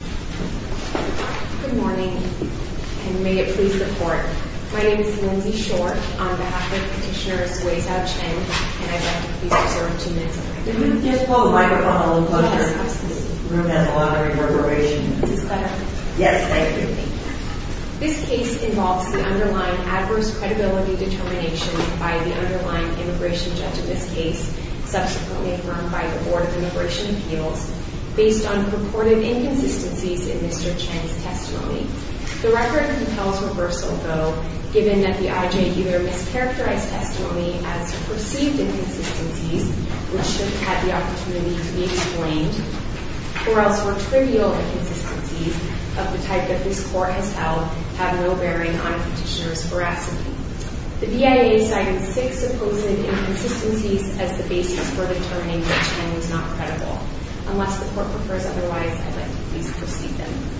Good morning, and may it please the Court. My name is Lindsay Short, on behalf of Petitioner Suixiao Chen, and I'd like to please observe two minutes of record. Could you just pull the microphone a little closer? This room has a lot of reverberation. Is this better? Yes, thank you. Thank you. This case involves the underlying adverse credibility determination by the underlying immigration judge in this case, subsequently affirmed by the Board of Immigration Appeals, based on purported inconsistencies in Mr. Chen's testimony. The record compels reversal, though, given that the IJ either mischaracterized testimony as perceived inconsistencies, which should have had the opportunity to be explained, or else were trivial inconsistencies of the type that this Court has held have no bearing on a petitioner's veracity. The BIA cited six supposed inconsistencies as the basis for determining that Chen was not credible. Unless the Court prefers otherwise, I'd like to please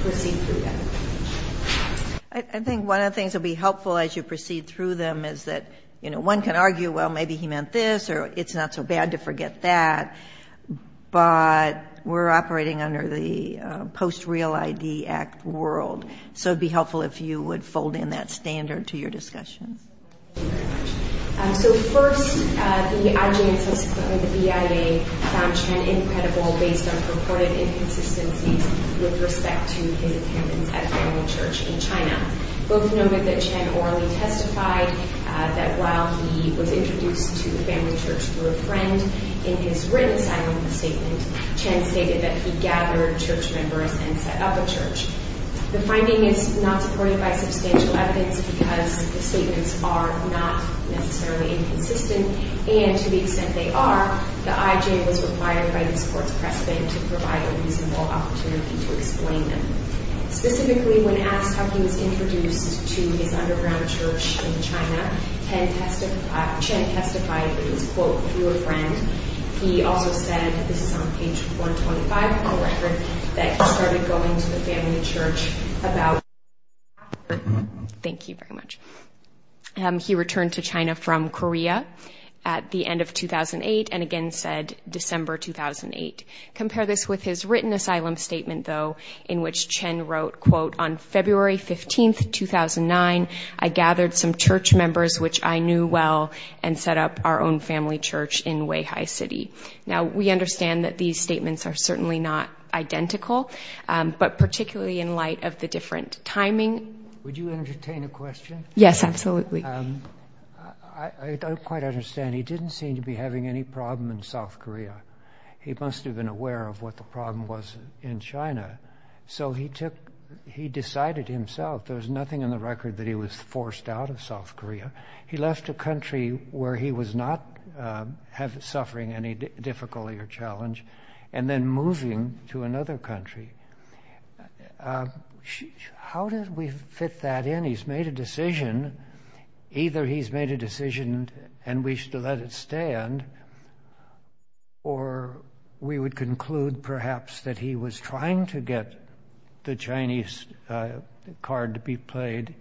proceed through them. I think one of the things that would be helpful as you proceed through them is that, you know, one can argue, well, maybe he meant this, or it's not so bad to forget that, but we're operating under the Post-Real ID Act world, so it would be helpful if you would fold in that standard to your discussions. Thank you very much. So first, the IJ and subsequently the BIA found Chen incredible based on purported inconsistencies with respect to his attendance at family church in China. Both noted that Chen orally testified that while he was introduced to the family church through a friend, in his written sign-off statement Chen stated that he gathered church members and set up a church. The finding is not supported by substantial evidence because the statements are not necessarily inconsistent, and to the extent they are, the IJ was required by this Court's precedent to provide a reasonable opportunity to explain them. Specifically, when asked how he was introduced to his underground church in China, Chen testified that he was, quote, Thank you very much. He returned to China from Korea at the end of 2008 and again said December 2008. Compare this with his written asylum statement, though, in which Chen wrote, quote, on February 15th, 2009, I gathered some church members which I knew well and set up our own family church in Weihai City. Now, we understand that these statements are certainly not identical, but particularly in light of the different timing. Would you entertain a question? Yes, absolutely. I don't quite understand. He didn't seem to be having any problem in South Korea. He must have been aware of what the problem was in China. So he decided himself there was nothing in the record that he was forced out of South Korea. He left a country where he was not suffering any difficulty or challenge and then moving to another country. How did we fit that in? He's made a decision. Either he's made a decision and wished to let it stand or we would conclude perhaps that he was trying to get the Chinese card to be played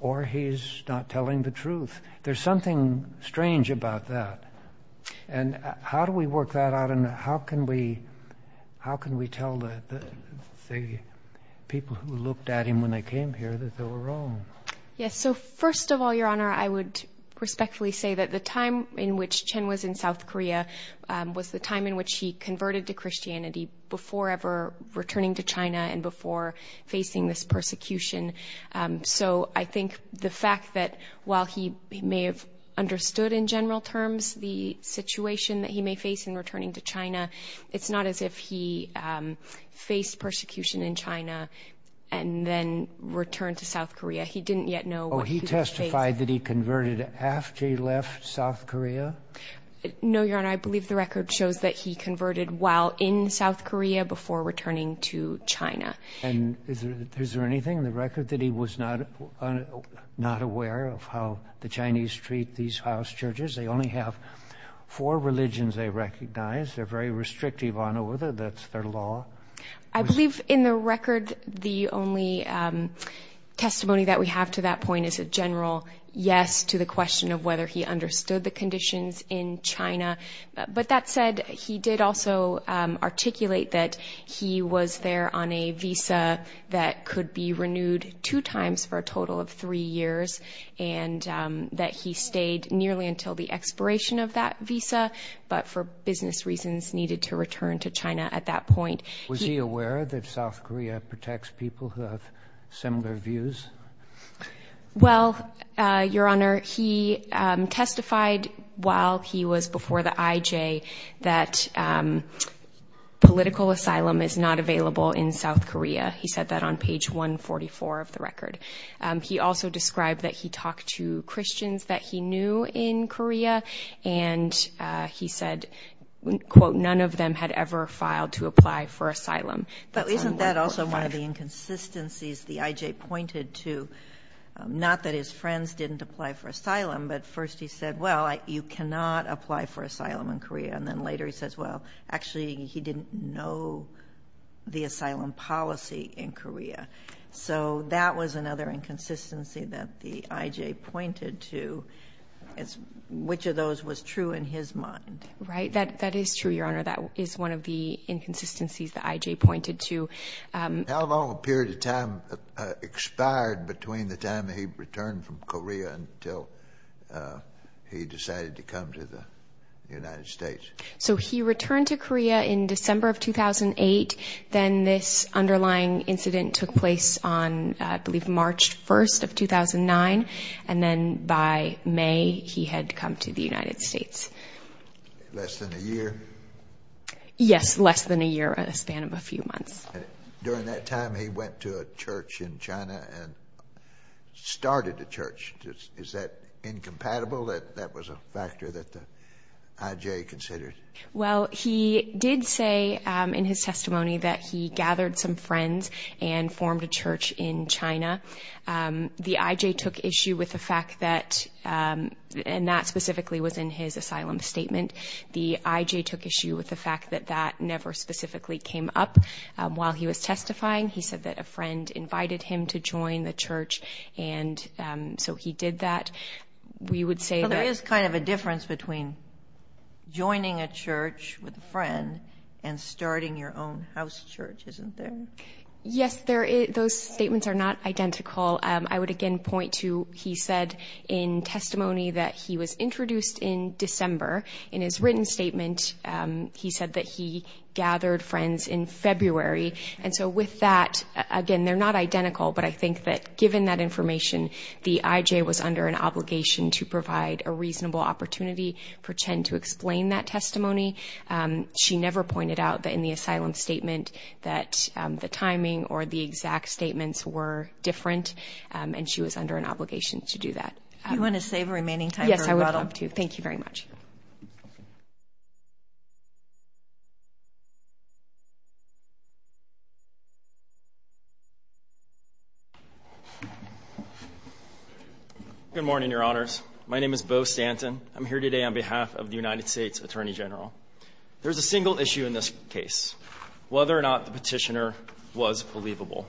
or he's not telling the truth. There's something strange about that. And how do we work that out and how can we tell the people who looked at him when they came here that they were wrong? Yes, so first of all, Your Honor, I would respectfully say that the time in which Chen was in South Korea was the time in which he converted to Christianity before ever returning to China and before facing this persecution. So I think the fact that while he may have understood in general terms the situation that he may face in returning to China, it's not as if he faced persecution in China and then returned to South Korea. He didn't yet know what he would face. Oh, he testified that he converted after he left South Korea? No, Your Honor. I believe the record shows that he converted while in South Korea before returning to China. And is there anything in the record that he was not aware of how the Chinese treat these house churches? They only have four religions they recognize. They're very restrictive on whether that's their law. I believe in the record the only testimony that we have to that point is a general yes to the question of whether he understood the conditions in China. But that said, he did also articulate that he was there on a visa that could be renewed two times for a total of three years and that he stayed nearly until the expiration of that visa, but for business reasons needed to return to China at that point. Was he aware that South Korea protects people who have similar views? Well, Your Honor, he testified while he was before the IJ that political asylum is not available in South Korea. He said that on page 144 of the record. He also described that he talked to Christians that he knew in Korea, and he said, quote, none of them had ever filed to apply for asylum. But isn't that also one of the inconsistencies the IJ pointed to? Not that his friends didn't apply for asylum, but first he said, well, you cannot apply for asylum in Korea. And then later he says, well, actually he didn't know the asylum policy in Korea. So that was another inconsistency that the IJ pointed to. Which of those was true in his mind? Right. That is true, Your Honor. That is one of the inconsistencies the IJ pointed to. How long a period of time expired between the time he returned from Korea until he decided to come to the United States? So he returned to Korea in December of 2008. Then this underlying incident took place on, I believe, March 1st of 2009. And then by May he had come to the United States. Less than a year? Yes, less than a year in a span of a few months. During that time he went to a church in China and started a church. Is that incompatible, that that was a factor that the IJ considered? Well, he did say in his testimony that he gathered some friends and formed a church in China. The IJ took issue with the fact that, and that specifically was in his asylum statement, the IJ took issue with the fact that that never specifically came up. While he was testifying, he said that a friend invited him to join the church, and so he did that. We would say that ---- Well, there is kind of a difference between joining a church with a friend and starting your own house church, isn't there? Yes, those statements are not identical. I would again point to he said in testimony that he was introduced in December. In his written statement, he said that he gathered friends in February. And so with that, again, they're not identical, but I think that given that information, the IJ was under an obligation to provide a reasonable opportunity for Chen to explain that testimony. She never pointed out that in the asylum statement that the timing or the exact statements were different, and she was under an obligation to do that. Do you want to save the remaining time for rebuttal? Yes, I would love to. Thank you very much. Good morning, Your Honors. My name is Beau Stanton. I'm here today on behalf of the United States Attorney General. There's a single issue in this case, whether or not the petitioner was believable.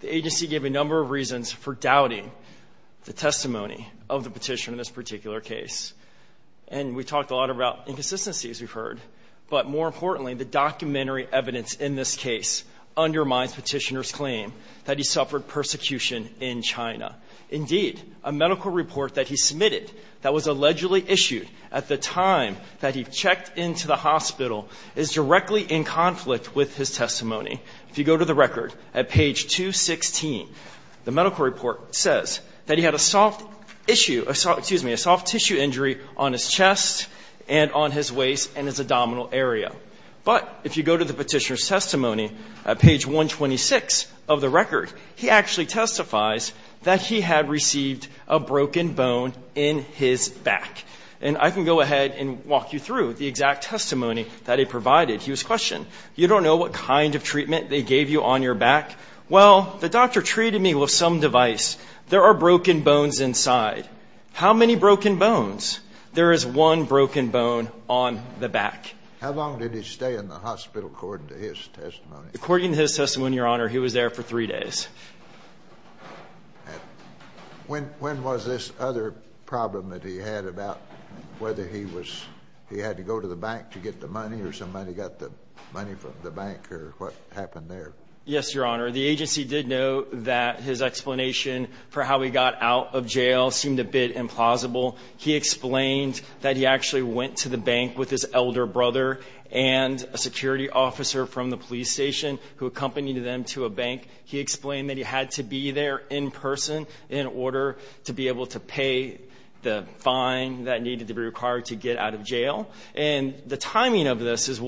The agency gave a number of reasons for doubting the testimony of the petitioner in this particular case, and we talked a lot about inconsistencies, we've heard. But more importantly, the documentary evidence in this case undermines petitioner's claim that he suffered persecution in China. Indeed, a medical report that he submitted that was allegedly issued at the time that he checked into the hospital is directly in conflict with his testimony. If you go to the record, at page 216, the medical report says that he had a soft tissue injury on his chest and on his waist and his abdominal area. But if you go to the petitioner's testimony at page 126 of the record, he actually testifies that he had received a broken bone in his back. And I can go ahead and walk you through the exact testimony that he provided. He was questioned. You don't know what kind of treatment they gave you on your back? Well, the doctor treated me with some device. There are broken bones inside. How many broken bones? There is one broken bone on the back. How long did he stay in the hospital according to his testimony? According to his testimony, Your Honor, he was there for three days. When was this other problem that he had about whether he had to go to the bank to get the money or somebody got the money from the bank or what happened there? Yes, Your Honor. The agency did note that his explanation for how he got out of jail seemed a bit implausible. He explained that he actually went to the bank with his elder brother and a security officer from the police station who accompanied them to a bank. He explained that he had to be there in person in order to be able to pay the fine that needed to be required to get out of jail. And the timing of this is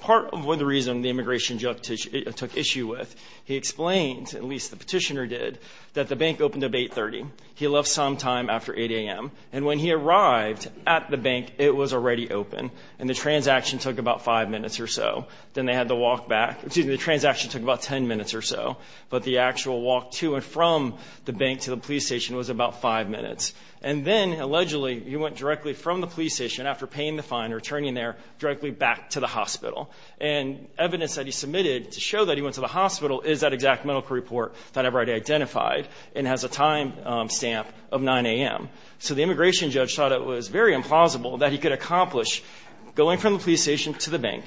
part of the reason the immigration judge took issue with. He explained, at least the petitioner did, that the bank opened up at 830. He left sometime after 8 a.m. And when he arrived at the bank, it was already open, and the transaction took about five minutes or so. Then they had to walk back. Excuse me, the transaction took about ten minutes or so, but the actual walk to and from the bank to the police station was about five minutes. And then, allegedly, he went directly from the police station after paying the fine or returning there directly back to the hospital. And evidence that he submitted to show that he went to the hospital is that exact medical report that I've already identified and has a time stamp of 9 a.m. So the immigration judge thought it was very implausible that he could accomplish going from the police station to the bank,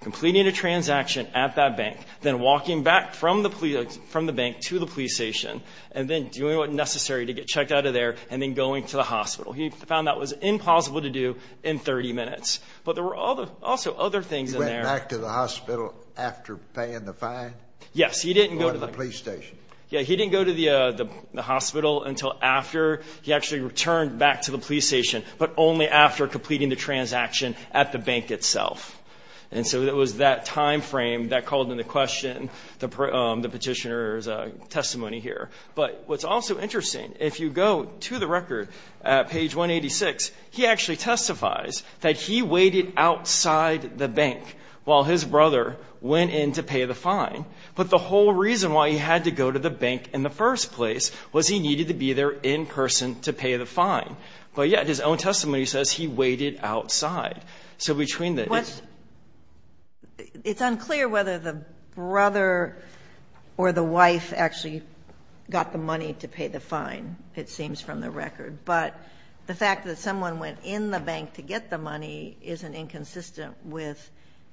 completing a transaction at that bank, then walking back from the bank to the police station, and then doing what was necessary to get checked out of there, and then going to the hospital. He found that was implausible to do in 30 minutes. But there were also other things in there. He went back to the hospital after paying the fine? Yes, he didn't go to the hospital until after. He actually returned back to the police station, but only after completing the transaction at the bank itself. And so it was that time frame that called into question the petitioner's testimony here. But what's also interesting, if you go to the record at page 186, he actually testifies that he waited outside the bank while his brother went in to pay the fine. But the whole reason why he had to go to the bank in the first place was he needed to be there in person to pay the fine. But yet his own testimony says he waited outside. So between the two. It's unclear whether the brother or the wife actually got the money to pay the fine, it seems from the record. But the fact that someone went in the bank to get the money isn't inconsistent with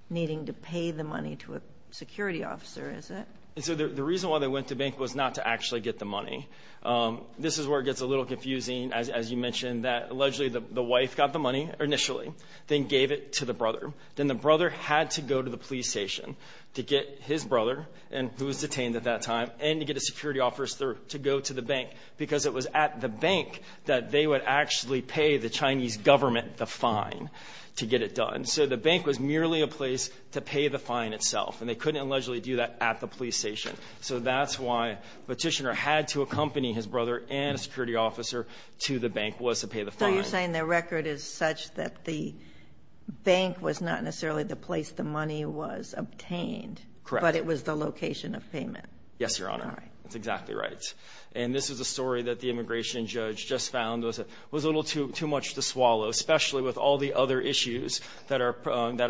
needing to pay the money to a security officer, is it? The reason why they went to the bank was not to actually get the money. This is where it gets a little confusing, as you mentioned, that allegedly the wife got the money initially, then gave it to the brother. Then the brother had to go to the police station to get his brother, who was detained at that time, and to get a security officer to go to the bank because it was at the bank that they would actually pay the Chinese government the fine to get it done. So the bank was merely a place to pay the fine itself, and they couldn't allegedly do that at the police station. So that's why Petitioner had to accompany his brother and a security officer to the bank was to pay the fine. So you're saying the record is such that the bank was not necessarily the place the money was obtained. Correct. Yes, Your Honor. All right. That's exactly right. And this is a story that the immigration judge just found was a little too much to swallow, especially with all the other issues that are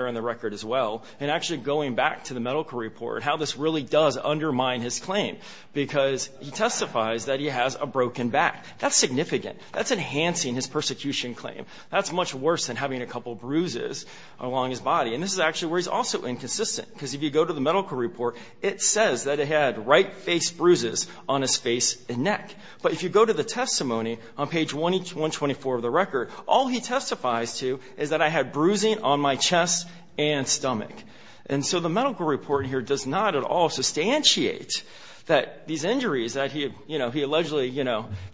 in the record as well. And actually going back to the medical report, how this really does undermine his claim, because he testifies that he has a broken back. That's significant. That's enhancing his persecution claim. That's much worse than having a couple bruises along his body. And this is actually where he's also inconsistent, because if you go to the medical report, it says that he had right face bruises on his face and neck. But if you go to the testimony on page 124 of the record, all he testifies to is that I had bruising on my chest and stomach. And so the medical report here does not at all substantiate that these injuries that he allegedly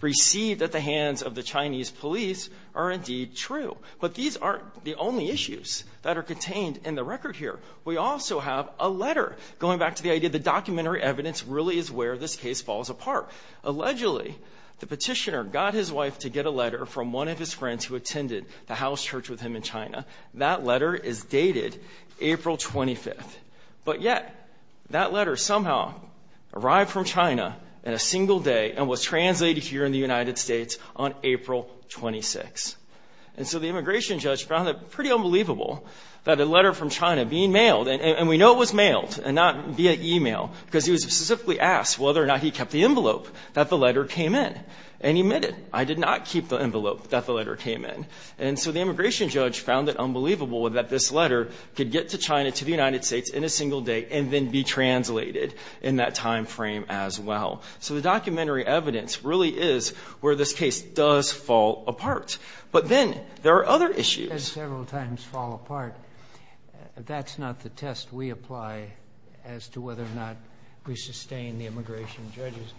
received at the hands of the Chinese police are indeed true. But these aren't the only issues that are contained in the record here. We also have a letter going back to the idea that documentary evidence really is where this case falls apart. Allegedly, the petitioner got his wife to get a letter from one of his friends who attended the house church with him in China. That letter is dated April 25th. But yet that letter somehow arrived from China in a single day and was translated here in the United States on April 26th. And so the immigration judge found it pretty unbelievable that a letter from China being mailed, and we know it was mailed and not via e-mail, because he was specifically asked whether or not he kept the envelope that the letter came in. And he admitted, I did not keep the envelope that the letter came in. And so the immigration judge found it unbelievable that this letter could get to China, to the United States in a single day, and then be translated in that time frame as well. So the documentary evidence really is where this case does fall apart. But then there are other issues. It does several times fall apart. That's not the test we apply as to whether or not we sustain the immigration judge's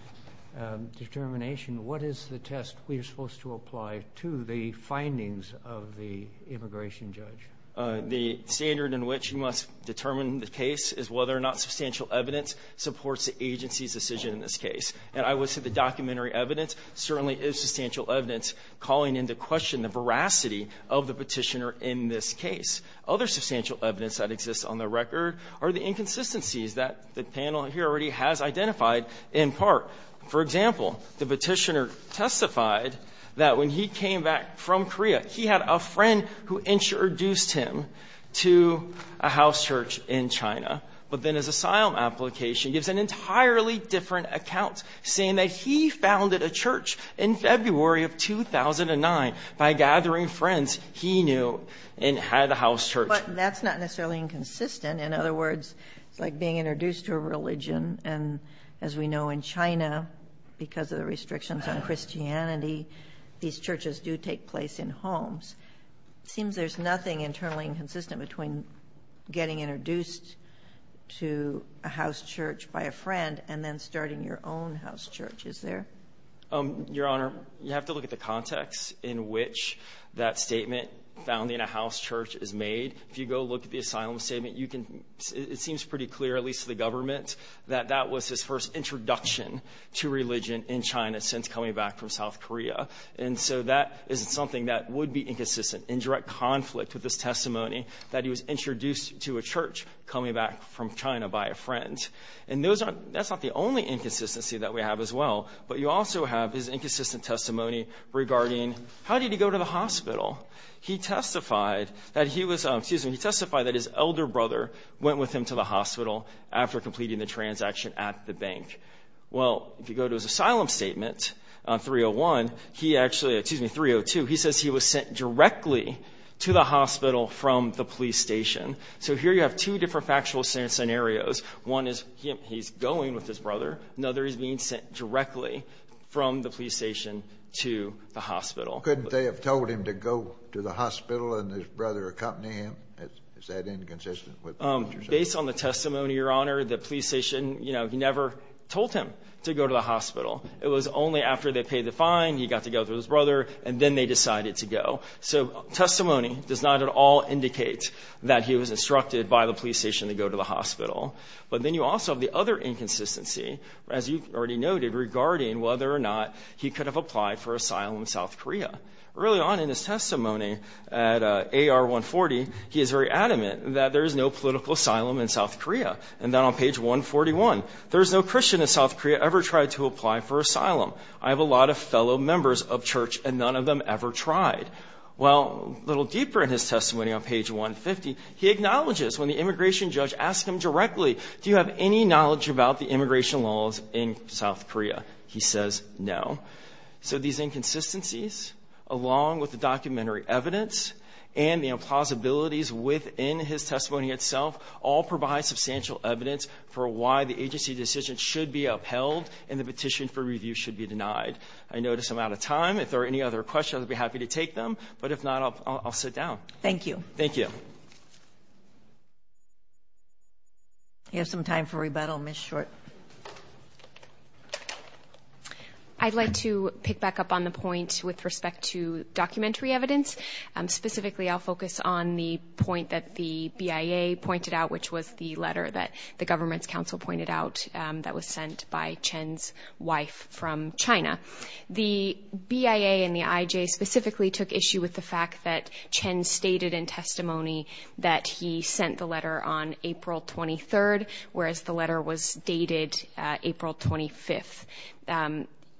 determination. What is the test we are supposed to apply to the findings of the immigration judge? The standard in which you must determine the case is whether or not substantial evidence supports the agency's decision in this case. And I would say the documentary evidence certainly is substantial evidence calling into question the veracity of the Petitioner in this case. Other substantial evidence that exists on the record are the inconsistencies that the panel here already has identified in part. For example, the Petitioner testified that when he came back from Korea, that he had a friend who introduced him to a house church in China. But then his asylum application gives an entirely different account, saying that he founded a church in February of 2009 by gathering friends he knew and had a house church. But that's not necessarily inconsistent. In other words, it's like being introduced to a religion. And as we know in China, because of the restrictions on Christianity, these churches do take place in homes. It seems there's nothing internally inconsistent between getting introduced to a house church by a friend and then starting your own house church. Is there? Your Honor, you have to look at the context in which that statement, founding a house church, is made. If you go look at the asylum statement, it seems pretty clear, at least to the government, that that was his first introduction to religion in China since coming back from South Korea. And so that is something that would be inconsistent, in direct conflict with his testimony that he was introduced to a church coming back from China by a friend. And that's not the only inconsistency that we have as well. But you also have his inconsistent testimony regarding, how did he go to the hospital? He testified that he was, excuse me, he testified that his elder brother went with him to the hospital after completing the transaction at the bank. Well, if you go to his asylum statement, 301, he actually, excuse me, 302, he says he was sent directly to the hospital from the police station. So here you have two different factual scenarios. One is he's going with his brother. Another, he's being sent directly from the police station to the hospital. Couldn't they have told him to go to the hospital and his brother accompany him? Is that inconsistent with what you're saying? Based on the testimony, Your Honor, the police station, you know, he never told him to go to the hospital. It was only after they paid the fine, he got to go with his brother, and then they decided to go. So testimony does not at all indicate that he was instructed by the police station to go to the hospital. But then you also have the other inconsistency, as you already noted, regarding whether or not he could have applied for asylum in South Korea. Early on in his testimony at AR 140, he is very adamant that there is no political asylum in South Korea. And then on page 141, there is no Christian in South Korea ever tried to apply for asylum. I have a lot of fellow members of church, and none of them ever tried. Well, a little deeper in his testimony on page 150, he acknowledges when the immigration judge asks him directly, do you have any knowledge about the immigration laws in South Korea? He says no. So these inconsistencies, along with the documentary evidence, and the implausibilities within his testimony itself, all provide substantial evidence for why the agency decision should be upheld and the petition for review should be denied. I notice I'm out of time. If there are any other questions, I'd be happy to take them. But if not, I'll sit down. Thank you. Thank you. We have some time for rebuttal. Ms. Short. I'd like to pick back up on the point with respect to documentary evidence. Specifically, I'll focus on the point that the BIA pointed out, which was the letter that the government's counsel pointed out that was sent by Chen's wife from China. The BIA and the IJ specifically took issue with the fact that Chen stated in testimony that he sent the letter on April 23rd, whereas the letter was dated April 25th.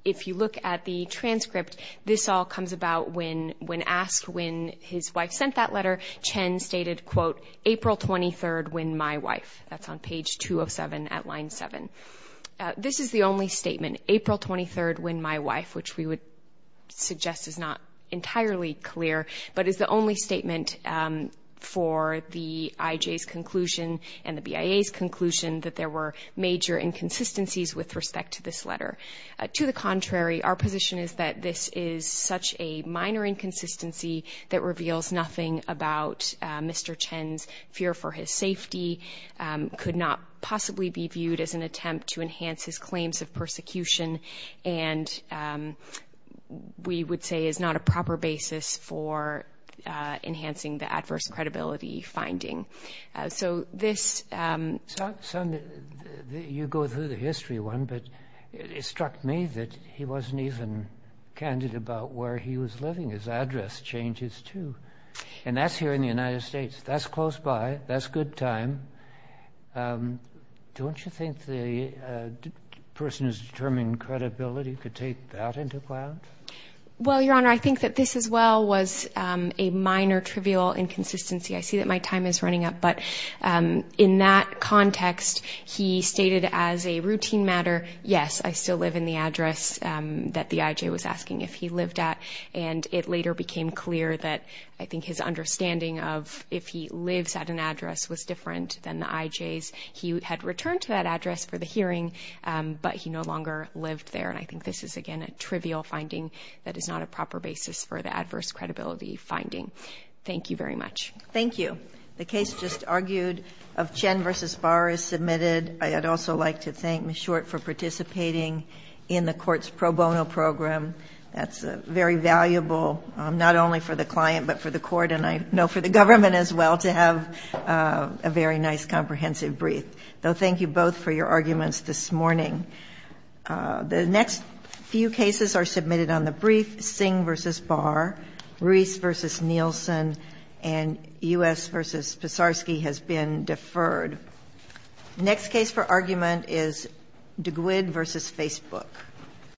If you look at the transcript, this all comes about when asked when his wife sent that letter. Chen stated, quote, April 23rd when my wife. That's on page 207 at line 7. This is the only statement, April 23rd when my wife, which we would suggest is not entirely clear, but is the only statement for the IJ's conclusion and the BIA's conclusion that there were major inconsistencies with respect to this letter. To the contrary, our position is that this is such a minor inconsistency that reveals nothing about Mr. Chen's fear for his safety, could not possibly be viewed as an attempt to enhance his claims of persecution, and we would say is not a proper basis for enhancing the adverse credibility finding. So this- You go through the history one, but it struck me that he wasn't even candid about where he was living. His address changes, too. And that's here in the United States. That's close by. That's good time. Don't you think the person who's determining credibility could take that into account? Well, Your Honor, I think that this as well was a minor trivial inconsistency. I see that my time is running up. But in that context, he stated as a routine matter, yes, I still live in the address that the IJ was asking if he lived at, and it later became clear that I think his understanding of if he lives at an address was different than the IJ's. He had returned to that address for the hearing, but he no longer lived there. And I think this is, again, a trivial finding that is not a proper basis for the adverse credibility finding. Thank you very much. Thank you. The case just argued of Chen v. Barr is submitted. I'd also like to thank Ms. Short for participating in the court's pro bono program. That's very valuable, not only for the client, but for the court, and I know for the government as well, to have a very nice comprehensive brief. So thank you both for your arguments this morning. The next few cases are submitted on the brief. Singh v. Barr, Ruiz v. Nielsen, and U.S. v. Pesarsky has been deferred. The next case for argument is DeGuid v. Facebook.